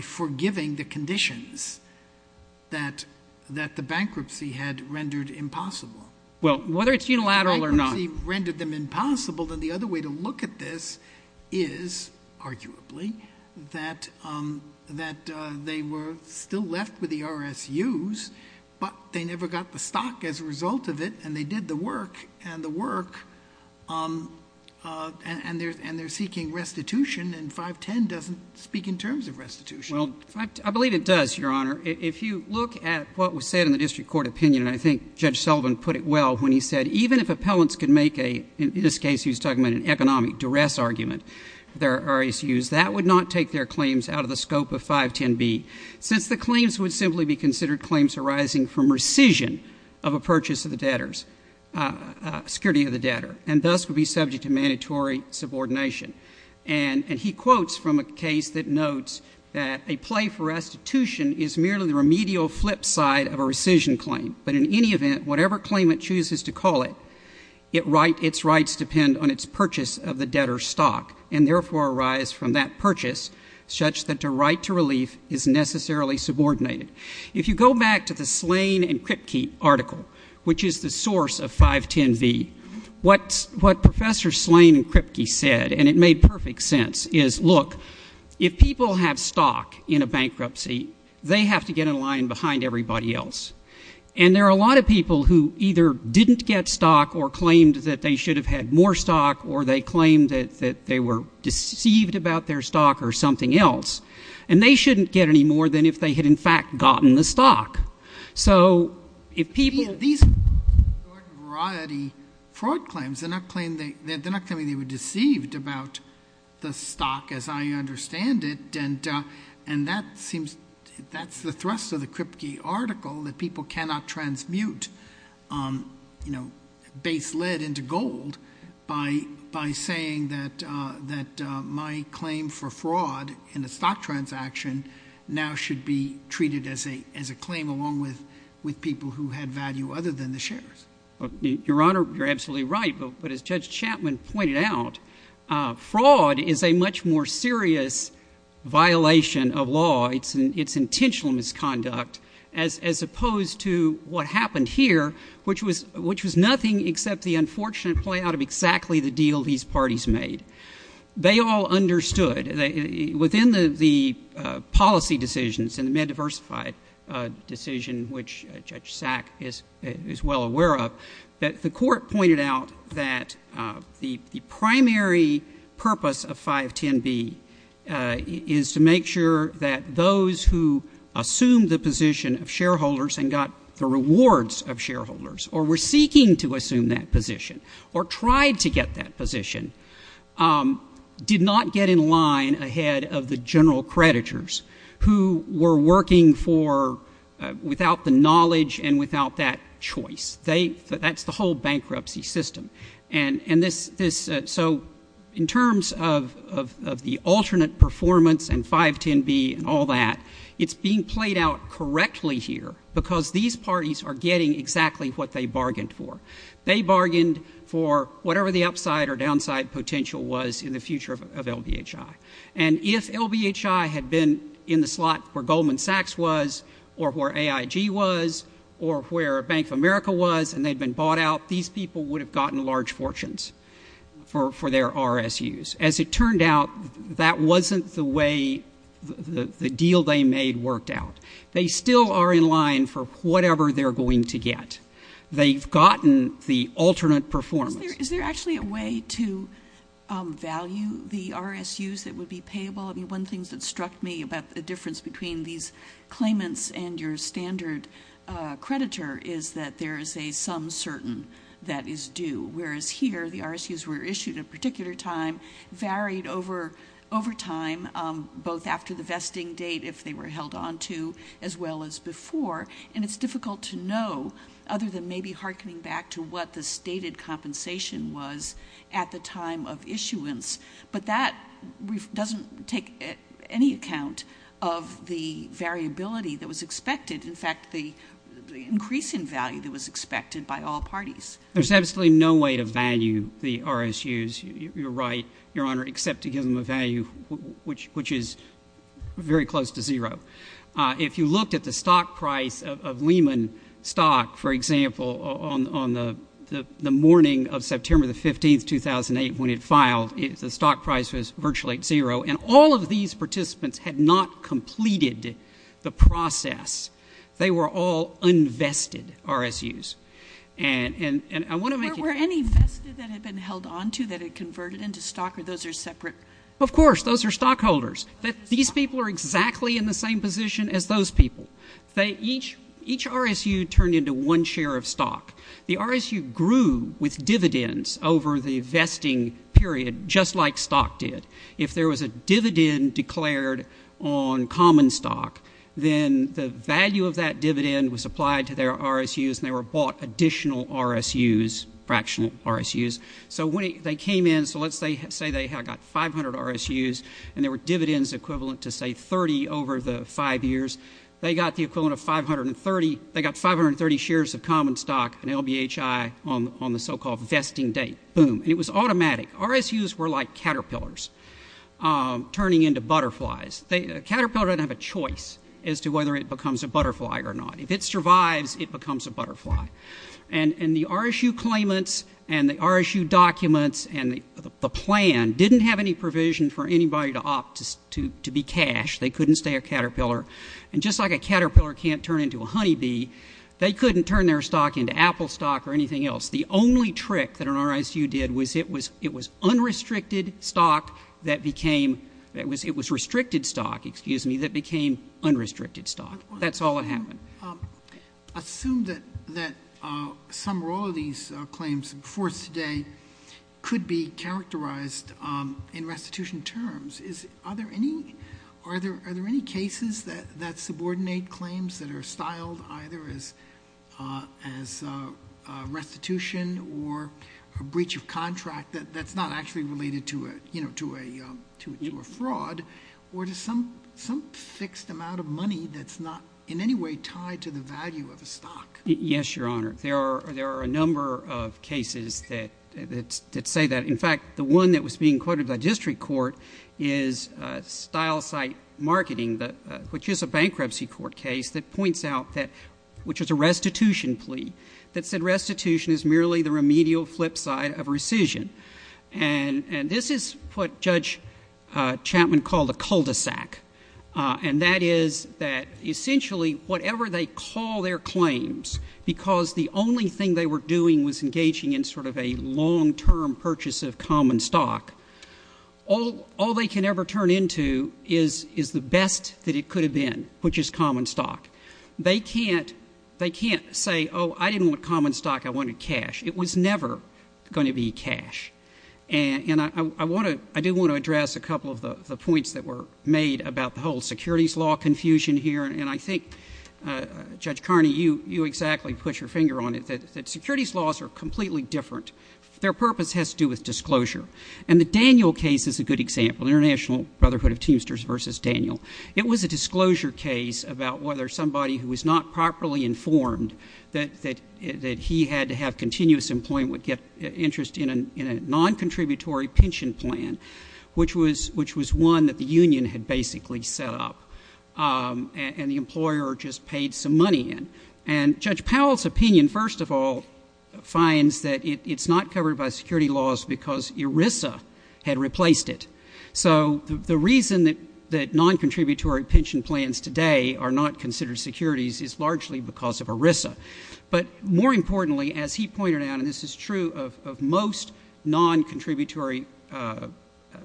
forgiving the conditions that the bankruptcy had rendered impossible. Well, whether it's unilateral or not. If the trustee rendered them impossible, then the other way to look at this is, arguably, that they were still left with the RSUs, but they never got the stock as a result of it. And they did the work, and the work, and they're seeking restitution. And 510 doesn't speak in terms of restitution. Well, I believe it does, Your Honor. If you look at what was said in the district court opinion, and I think Judge Sullivan put it well when he said, even if appellants could make a, in this case, he was talking about an economic duress argument for their RSUs, that would not take their claims out of the scope of 510B, since the claims would simply be considered claims arising from rescission of a purchase of the debtors, security of the debtor, and thus would be subject to mandatory subordination. And he quotes from a case that notes that a play for restitution is merely the remedial flip side of a rescission claim. But in any event, whatever claim it chooses to call it, its rights depend on its purchase of the debtor's stock, and therefore arise from that purchase, such that the right to relief is necessarily subordinated. If you go back to the Slane and Kripke article, which is the source of 510B, what Professor Slane and Kripke said, and it made perfect sense, is, look, if people have stock in a bankruptcy, they have to get in line behind everybody else. And there are a lot of people who either didn't get stock or claimed that they should have had more stock, or they claimed that they were deceived about their stock or something else. And they shouldn't get any more than if they had, in fact, gotten the stock. So if people- These broad variety fraud claims, they're not claiming they were deceived about the stock, as I understand it. And that's the thrust of the Kripke article, that people cannot transmute base lead into gold by saying that my claim for fraud in a stock transaction now should be treated as a claim along with people who had value other than the shares. Your Honor, you're absolutely right. But as Judge Chapman pointed out, fraud is a much more serious violation of law, its intentional misconduct, as opposed to what happened here, which was nothing except the unfortunate play out of exactly the deal these parties made. They all understood, within the policy decisions and the MedDiversified decision, which Judge Sack is well aware of, that the court pointed out that the primary purpose of 510B is to make sure that those who assume the position of shareholders and got the rewards of shareholders, or were seeking to assume that position, or tried to get that position, did not get in line ahead of the general creditors who were working without the knowledge and without that choice. That's the whole bankruptcy system. And so, in terms of the alternate performance and 510B and all that, it's being played out correctly here because these parties are getting exactly what they bargained for. They bargained for whatever the upside or downside potential was in the future of LBHI. And if LBHI had been in the slot where Goldman Sachs was, or where AIG was, or where Bank of America was, and they'd been bought out, these people would have gotten large fortunes for their RSUs. As it turned out, that wasn't the way the deal they made worked out. They still are in line for whatever they're going to get. They've gotten the alternate performance. Is there actually a way to value the RSUs that would be payable? I mean, one of the things that struck me about the difference between these claimants and your standard creditor is that there is a some certain that is due, whereas here, the RSUs were issued at a particular time, varied over time, both after the vesting date, if they were held on to, as well as before. And it's difficult to know, other than maybe hearkening back to what the stated compensation was at the time of issuance. But that doesn't take any account of the variability that was expected. In fact, the increase in value that was expected by all parties. There's absolutely no way to value the RSUs, you're right, Your Honour, except to give them a value which is very close to zero. If you looked at the stock price of Lehman stock, for example, on the morning of September the 15th, 2008, when it filed, the stock price was virtually at zero. And all of these participants had not completed the process. They were all unvested RSUs. And I want to make it... Were any vested that had been held on to, that had converted into stock, or those are separate? Of course, those are stockholders. These people are exactly in the same position as those people. Each RSU turned into one share of stock. The RSU grew with dividends over the vesting period, just like stock did. If there was a dividend declared on common stock, then the value of that dividend was applied to their RSUs and they were bought additional RSUs, fractional RSUs. So when they came in, so let's say they got 500 RSUs and there were dividends equivalent to, say, 30 over the five years. They got the equivalent of 530... They got 530 shares of common stock and LBHI on the so-called vesting date. Boom. And it was automatic. RSUs were like caterpillars turning into butterflies. A caterpillar doesn't have a choice as to whether it becomes a butterfly or not. If it survives, it becomes a butterfly. And the RSU claimants and the RSU documents and the plan didn't have any provision for anybody to opt to be cash. They couldn't stay a caterpillar. And just like a caterpillar can't turn into a honeybee, they couldn't turn their stock into apple stock or anything else. The only trick that an RSU did was it was unrestricted stock that became... It was restricted stock, excuse me, that became unrestricted stock. That's all that happened. I assume that some or all of these claims before us today could be characterised in restitution terms. Are there any cases that subordinate claims that are styled either as restitution or a breach of contract that's not actually related to a fraud or to some fixed amount of money that's not in any way tied to the value of a stock? Yes, Your Honour. There are a number of cases that say that. In fact, the one that was being quoted by district court is Style Site Marketing, which is a bankruptcy court case that points out that... which is a restitution plea that said restitution is merely the remedial flipside of rescission. And this is what Judge Chapman called a cul-de-sac, and that is that essentially whatever they call their claims, because the only thing they were doing was engaging in sort of a long-term purchase of common stock, all they can ever turn into is the best that it could have been, which is common stock. They can't say, Oh, I didn't want common stock, I wanted cash. It was never going to be cash. And I do want to address a couple of the points that were made about the whole securities law confusion here, and I think, Judge Carney, you exactly put your finger on it, that securities laws are completely different. Their purpose has to do with disclosure. And the Daniel case is a good example, International Brotherhood of Teamsters v. Daniel. It was a disclosure case about whether somebody who was not properly informed that he had to have continuous employment would get interest in a non-contributory pension plan, which was one that the union had basically set up, and the employer just paid some money in. And Judge Powell's opinion, first of all, finds that it's not covered by security laws because ERISA had replaced it. So the reason that non-contributory pension plans today are not considered securities is largely because of ERISA. But more importantly, as he pointed out, and this is true of most non-contributory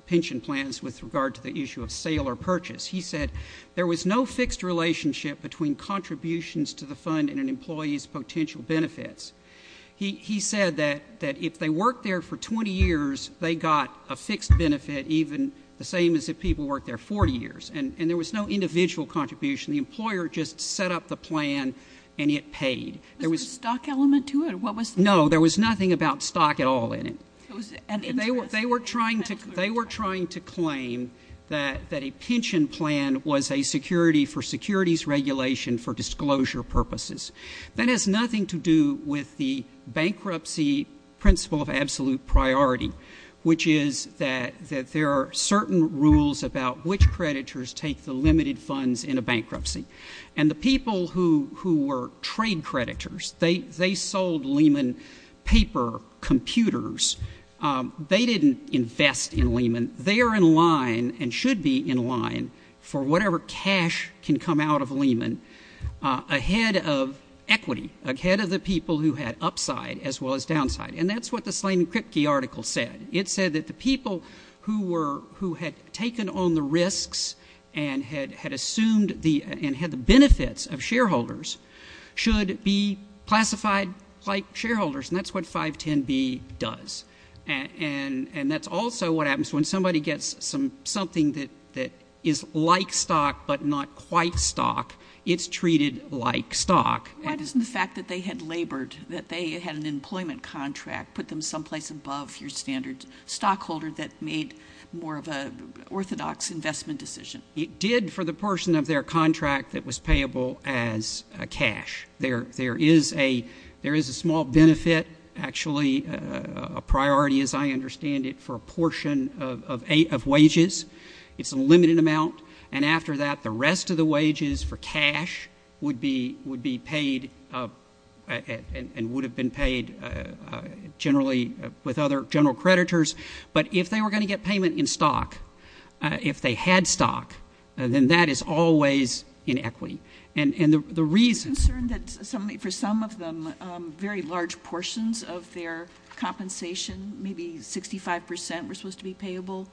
pension plans with regard to the issue of sale or purchase, he said there was no fixed relationship between contributions to the fund and an employee's potential benefits. He said that if they worked there for 20 years, they got a fixed benefit even the same as if people worked there 40 years, and there was no individual contribution. The employer just set up the plan and it paid. Was there a stock element to it? No, there was nothing about stock at all in it. They were trying to claim that a pension plan was a security for securities regulation for disclosure purposes. That has nothing to do with the bankruptcy principle of absolute priority, which is that there are certain rules about which creditors take the limited funds in a bankruptcy. And the people who were trade creditors, they sold Lehman paper computers. They didn't invest in Lehman. They are in line and should be in line for whatever cash can come out of Lehman ahead of equity, ahead of the people who had upside as well as downside. And that's what the Slade and Kripke article said. It said that the people who had taken on the risks and had assumed and had the benefits of shareholders should be classified like shareholders, and that's what 510B does. And that's also what happens when somebody gets something that is like stock but not quite stock. It's treated like stock. Why doesn't the fact that they had labored, that they had an employment contract, put them someplace above your standard stockholder that made more of an orthodox investment decision? It did for the portion of their contract that was payable as cash. There is a small benefit, actually a priority as I understand it, for a portion of wages. It's a limited amount. And after that, the rest of the wages for cash would be paid and would have been paid generally with other general creditors. But if they were going to get payment in stock, if they had stock, then that is always in equity. And the reason for some of them, very large portions of their compensation, maybe 65 percent were supposed to be payable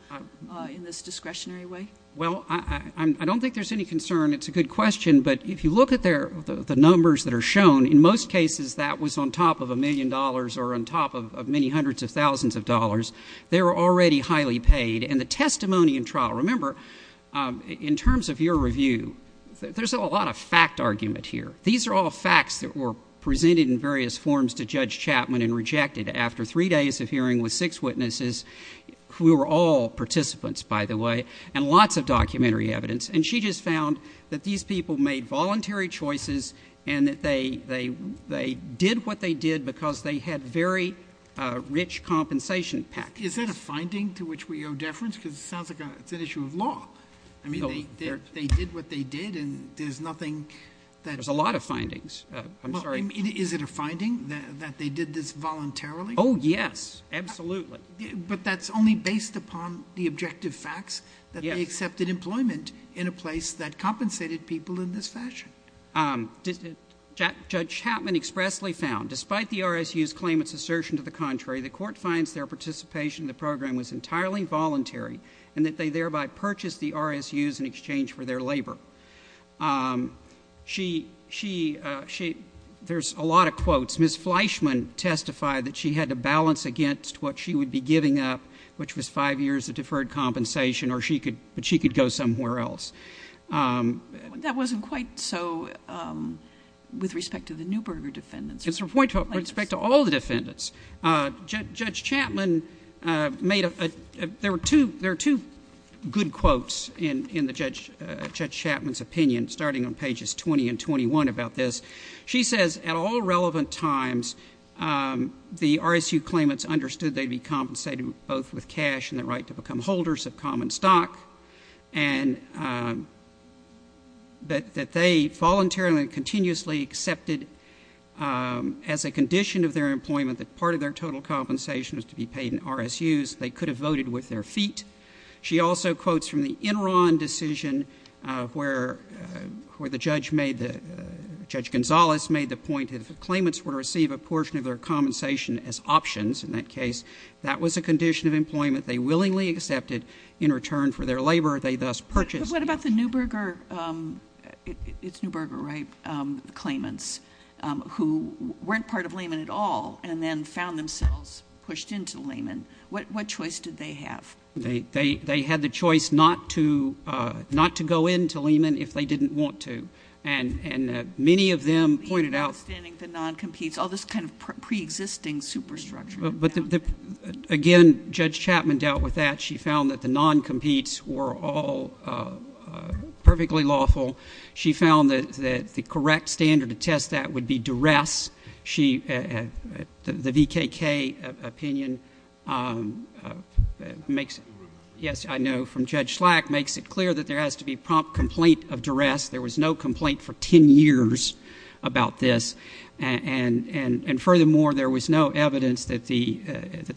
in this discretionary way. Well, I don't think there's any concern. It's a good question. But if you look at the numbers that are shown, in most cases that was on top of a million dollars or on top of many hundreds of thousands of dollars. They were already highly paid. And the testimony in trial, remember, in terms of your review, there's a lot of fact argument here. These are all facts that were presented in various forms to Judge Chapman and rejected. After three days of hearing with six witnesses, who were all participants, by the way, and lots of documentary evidence, and she just found that these people made voluntary choices and that they did what they did because they had very rich compensation packages. Is that a finding to which we owe deference? Because it sounds like it's an issue of law. I mean, they did what they did, and there's nothing that... There's a lot of findings. I'm sorry. Is it a finding that they did this voluntarily? Oh, yes, absolutely. But that's only based upon the objective facts that they accepted employment in a place that compensated people in this fashion. Judge Chapman expressly found, despite the RSU's claim it's assertion to the contrary, the court finds their participation in the program was entirely voluntary and that they thereby purchased the RSUs in exchange for their labour. She...she...she... There's a lot of quotes. Ms. Fleischman testified that she had to balance against what she would be giving up, which was five years of deferred compensation, but she could go somewhere else. That wasn't quite so with respect to the Neuberger defendants. It's a point with respect to all the defendants. Judge Chapman made a... There are two good quotes in Judge Chapman's opinion, starting on pages 20 and 21, about this. She says, at all relevant times, the RSU claimants understood they'd be compensated both with cash and the right to become holders of common stock and that they voluntarily and continuously accepted as a condition of their employment that part of their total compensation was to be paid in RSUs. They could have voted with their feet. She also quotes from the Enron decision where the judge made the... Judge Gonzales made the point that if the claimants were to receive a portion of their compensation as options, in that case, that was a condition of employment they willingly accepted in return for their labour, they thus purchased... But what about the Neuberger... It's Neuberger, right, the claimants, who weren't part of Lehman at all and then found themselves pushed into Lehman? What choice did they have? They had the choice not to go into Lehman if they didn't want to. And many of them pointed out... Outstanding to non-competes, all this kind of pre-existing superstructure. But, again, Judge Chapman dealt with that. She found that the non-competes were all perfectly lawful. She found that the correct standard to test that would be duress. The VKK opinion makes... Yes, I know, from Judge Slack, makes it clear that there has to be prompt complaint of duress. There was no complaint for 10 years about this. And furthermore, there was no evidence that the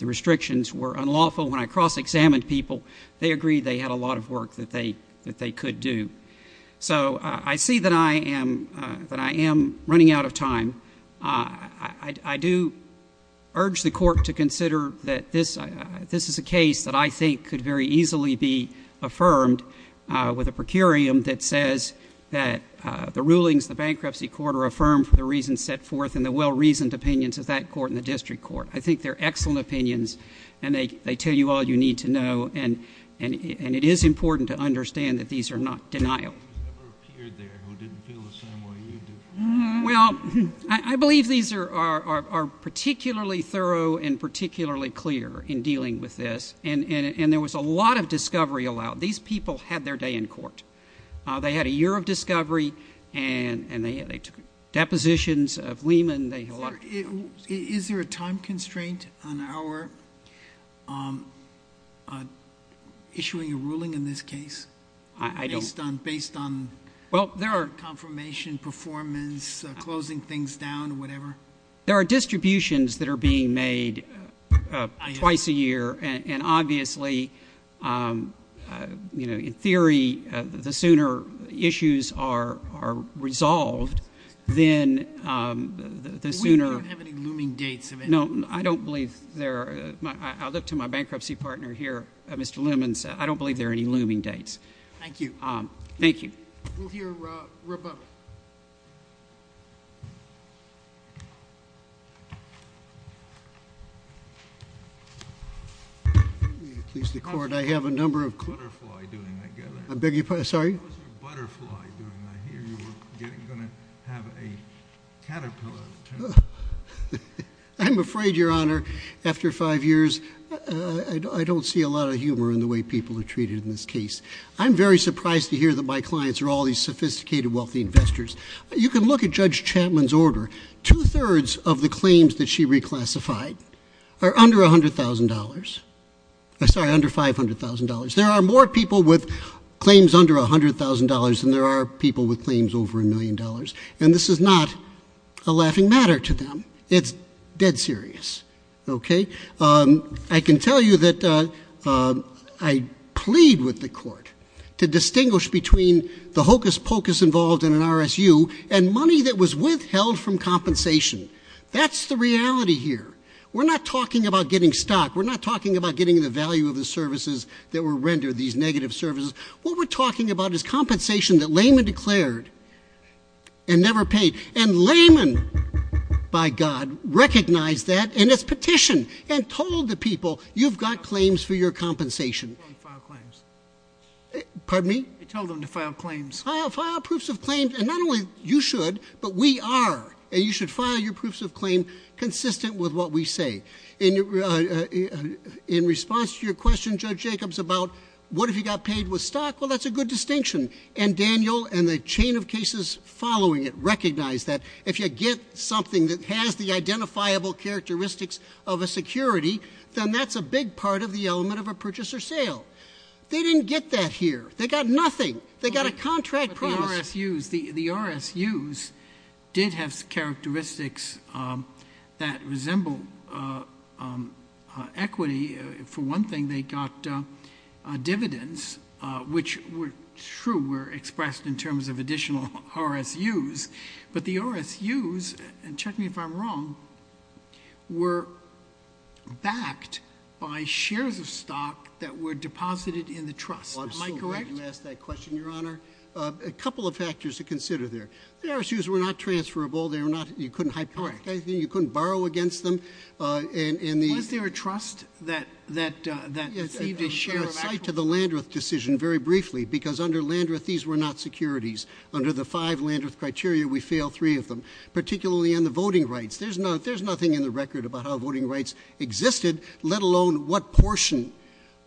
restrictions were unlawful. When I cross-examined people, they agreed they had a lot of work that they could do. So I see that I am running out of time. I do urge the court to consider that this is a case that I think could very easily be affirmed with a procurium that says that the rulings of the bankruptcy court are affirmed for the reasons set forth in the well-reasoned opinions of that court and the district court. I think they're excellent opinions, and they tell you all you need to know. And it is important to understand that these are not denial. ...who didn't feel the same way you do. Well, I believe these are particularly thorough and particularly clear in dealing with this. And there was a lot of discovery allowed. These people had their day in court. They had a year of discovery, and they took depositions of Lehman. Is there a time constraint on our issuing a ruling in this case? Based on confirmation, performance, closing things down, whatever? There are distributions that are being made twice a year, and obviously, in theory, the sooner issues are resolved, then the sooner... We don't have any looming dates. No, I don't believe there are. I'll look to my bankruptcy partner here, Mr. Lehman, since I don't believe there are any looming dates. Thank you. Thank you. We'll hear Rebecca. Please, the court. I have a number of questions. How is your butterfly doing? I beg your pardon? Sorry? How is your butterfly doing? I hear you were going to have a caterpillar. I'm afraid, Your Honor, after five years, I don't see a lot of humor in the way people are treated in this case. I'm very surprised to hear that my clients are all these sophisticated, wealthy investors. You can look at Judge Chapman's order. Two-thirds of the claims that she reclassified are under $500,000. There are more people with claims under $100,000 than there are people with claims over $1 million, and this is not a laughing matter to them. It's dead serious. Okay? I can tell you that I plead with the court to distinguish between the hocus-pocus involved in an RSU and money that was withheld from compensation. That's the reality here. We're not talking about getting stock. We're not talking about getting the value of the services that were rendered, these negative services. What we're talking about is compensation that Lehman declared and never paid, and Lehman, by God, recognized that in his petition and told the people, you've got claims for your compensation. He told them to file claims. Pardon me? He told them to file claims. File proofs of claims, and not only you should, but we are, and you should file your proofs of claim consistent with what we say. In response to your question, Judge Jacobs, about what if he got paid with stock, well, that's a good distinction, and Daniel and the chain of cases following it recognize that. If you get something that has the identifiable characteristics of a security, then that's a big part of the element of a purchase or sale. They didn't get that here. They got nothing. They got a contract promise. But the RSUs, the RSUs did have characteristics that resembled equity. For one thing, they got dividends, which were true, were expressed in terms of additional RSUs. But the RSUs, and check me if I'm wrong, were backed by shares of stock that were deposited in the trust. Am I correct? You asked that question, Your Honor. A couple of factors to consider there. The RSUs were not transferable. They were not, you couldn't hijack anything. You couldn't borrow against them. Was there a trust that received a share of equity? I'm going to cite to the Landreth decision very briefly, because under Landreth, these were not securities. Under the five Landreth criteria, we fail three of them, particularly on the voting rights. There's nothing in the record about how voting rights existed, let alone what portion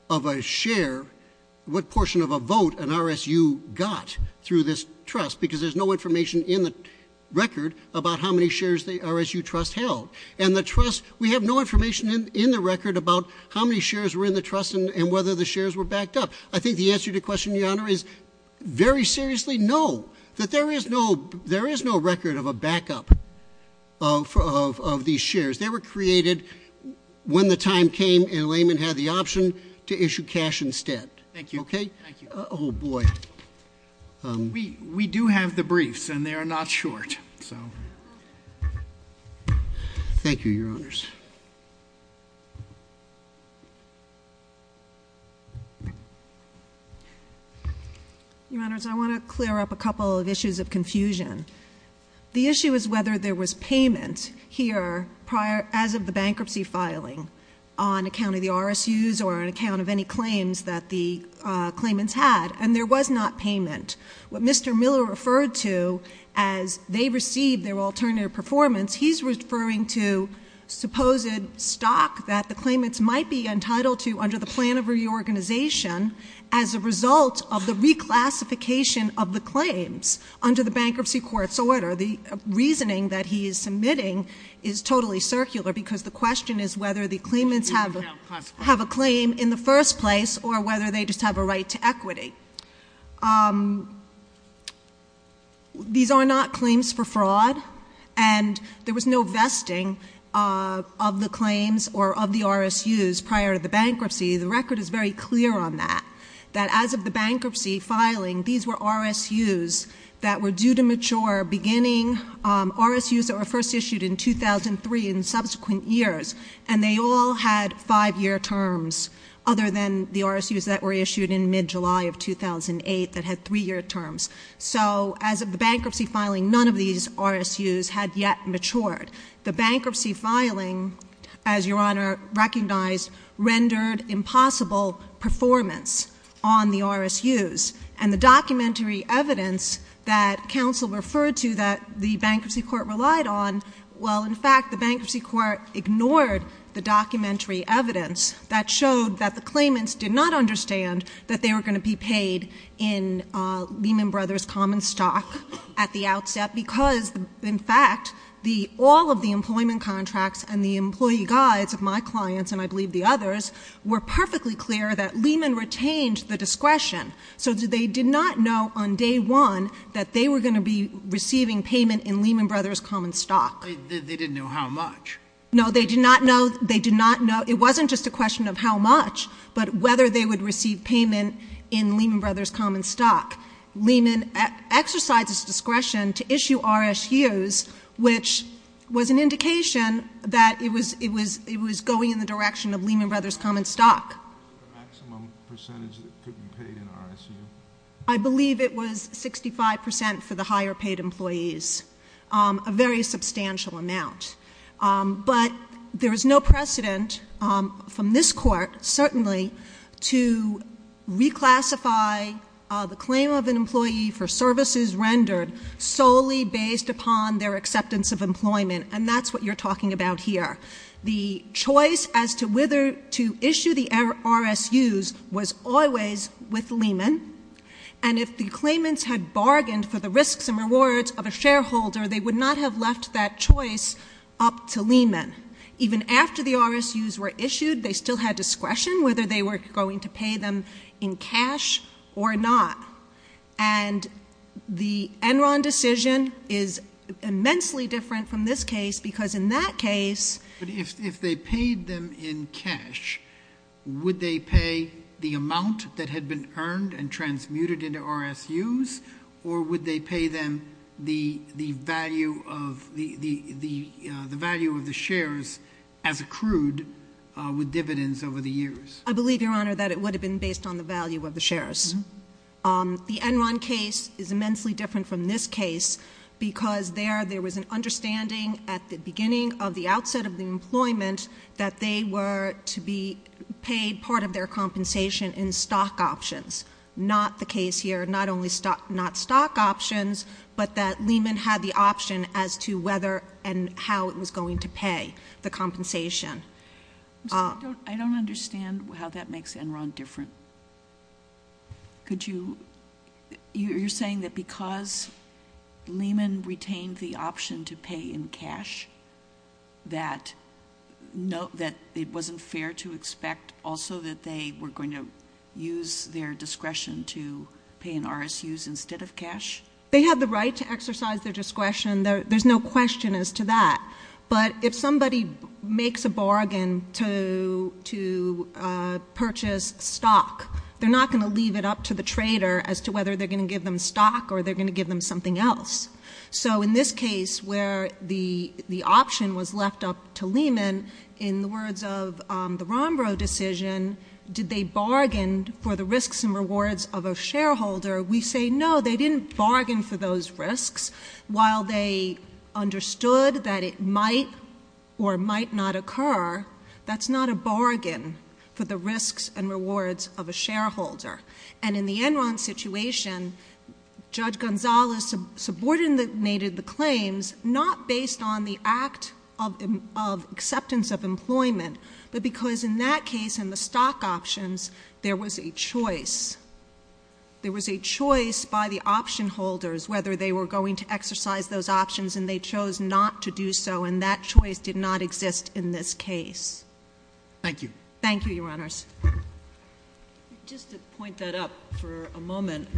of a share, what portion of a vote an RSU got through this trust, because there's no information in the record about how many shares the RSU trust held. And the trust, we have no information in the record about how many shares were in the trust and whether the shares were backed up. I think the answer to your question, Your Honor, is very seriously no, that there is no record of a backup of these shares. They were created when the time came and laymen had the option to issue cash instead. Thank you. Oh, boy. We do have the briefs, and they are not short. So thank you, Your Honors. Your Honors, I want to clear up a couple of issues of confusion. The issue is whether there was payment here as of the bankruptcy filing on account of the RSUs or on account of any claims that the claimants had, and there was not payment. What Mr. Miller referred to as they received their alternative performance, he's referring to supposed stock that the claimants might be entitled to under the plan of reorganization as a result of the reclassification of the claims under the bankruptcy court's order. The reasoning that he is submitting is totally circular, because the question is whether the claimants have a claim in the first place or whether they just have a right to equity. These are not claims for fraud, and there was no vesting of the claims or of the RSUs prior to the bankruptcy. The record is very clear on that, that as of the bankruptcy filing, these were RSUs that were due to mature beginning, RSUs that were first issued in 2003 and subsequent years, and they all had five-year terms other than the RSUs that were issued in mid-July of 2008 that had three-year terms. So as of the bankruptcy filing, none of these RSUs had yet matured. The bankruptcy filing, as Your Honor recognized, rendered impossible performance on the RSUs, and the documentary evidence that counsel referred to that the bankruptcy court relied on, well, in fact, the bankruptcy court ignored the documentary evidence that showed that the claimants did not understand that they were going to be paid in Lehman Brothers Common Stock at the outset, because, in fact, all of the employment contracts and the employee guides of my clients, and I believe the others, were perfectly clear that Lehman retained the discretion, so they did not know on day one that they were going to be receiving payment in Lehman Brothers Common Stock. They didn't know how much? No, they did not know. They did not know. It wasn't just a question of how much, but whether they would receive payment in Lehman Brothers Common Stock. Lehman exercised its discretion to issue RSUs, which was an indication that it was going in the direction of Lehman Brothers Common Stock. What was the maximum percentage that could be paid in RSU? I believe it was 65 percent for the higher paid employees, a very substantial amount. But there is no precedent from this Court, certainly, to reclassify the claim of an employee for services rendered solely based upon their acceptance of employment, and that's what you're talking about here. The choice as to whether to issue the RSUs was always with Lehman, and if the claimants had bargained for the risks and rewards of a shareholder, they would not have left that choice up to Lehman. Even after the RSUs were issued, they still had discretion whether they were going to pay them in cash or not. And the Enron decision is immensely different from this case because in that case... But if they paid them in cash, would they pay the amount that had been earned and transmuted into RSUs, or would they pay them the value of the shares as accrued with dividends over the years? I believe, Your Honor, that it would have been based on the value of the shares. The Enron case is immensely different from this case because there, there was an understanding at the beginning of the outset of the employment that they were to be paid part of their compensation in stock options. Not the case here, not only stock options, but that Lehman had the option as to whether and how it was going to pay the compensation. I don't understand how that makes Enron different. Could you... You're saying that because Lehman retained the option to pay in cash, that it wasn't fair to expect also that they were going to use their discretion to pay in RSUs instead of cash? They had the right to exercise their discretion. There's no question as to that. But if somebody makes a bargain to purchase stock, they're not going to leave it up to the trader as to whether they're going to give them stock or they're going to give them something else. So in this case where the option was left up to Lehman, in the words of the Rombrow decision, did they bargain for the risks and rewards of a shareholder? We say no, they didn't bargain for those risks. While they understood that it might or might not occur, that's not a bargain for the risks and rewards of a shareholder. And in the Enron situation, Judge Gonzales subordinated the claims, not based on the act of acceptance of employment, but because in that case in the stock options, there was a choice. There was a choice by the option holders whether they were going to exercise those options, and they chose not to do so, and that choice did not exist in this case. Thank you. Thank you, Your Honors. Just to point that up for a moment,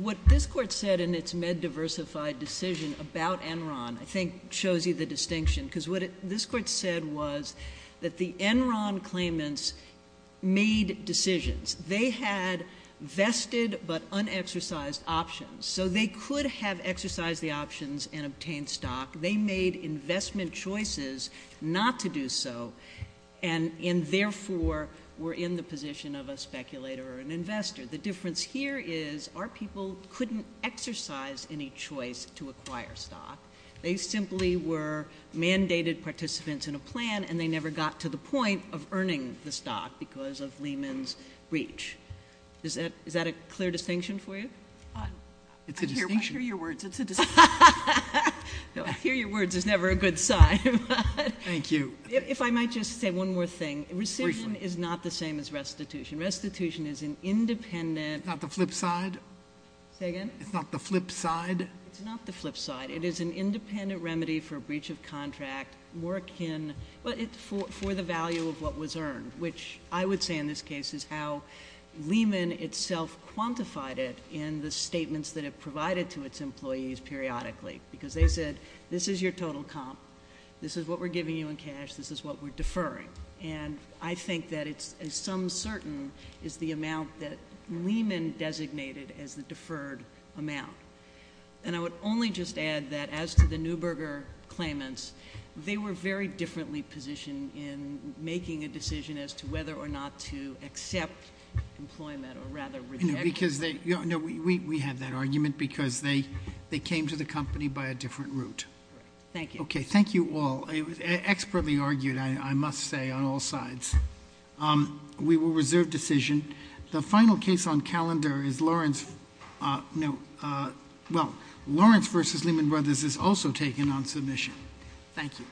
what this Court said in its MedDiversified decision about Enron I think shows you the distinction. Because what this Court said was that the Enron claimants made decisions. They had vested but unexercised options. So they could have exercised the options and obtained stock. They made investment choices not to do so, and therefore were in the position of a speculator or an investor. The difference here is our people couldn't exercise any choice to acquire stock. They simply were mandated participants in a plan, and they never got to the point of earning the stock because of Lehman's breach. Is that a clear distinction for you? It's a distinction. I hear your words. It's a distinction. I hear your words is never a good sign. Thank you. If I might just say one more thing. Recision is not the same as restitution. Restitution is an independent— It's not the flip side? Say again? It's not the flip side? It's not the flip side. It is an independent remedy for breach of contract, more akin for the value of what was earned, which I would say in this case is how Lehman itself quantified it in the statements that it provided to its employees periodically because they said this is your total comp. This is what we're giving you in cash. This is what we're deferring. And I think that it's some certain is the amount that Lehman designated as the deferred amount. And I would only just add that as to the Neuberger claimants, they were very differently positioned in making a decision as to whether or not to accept employment or rather reject it. No, we have that argument because they came to the company by a different route. Thank you. Okay. Thank you all. It was expertly argued, I must say, on all sides. We will reserve decision. The final case on calendar is Lawrence versus Lehman Brothers is also taken on submission. Thank you.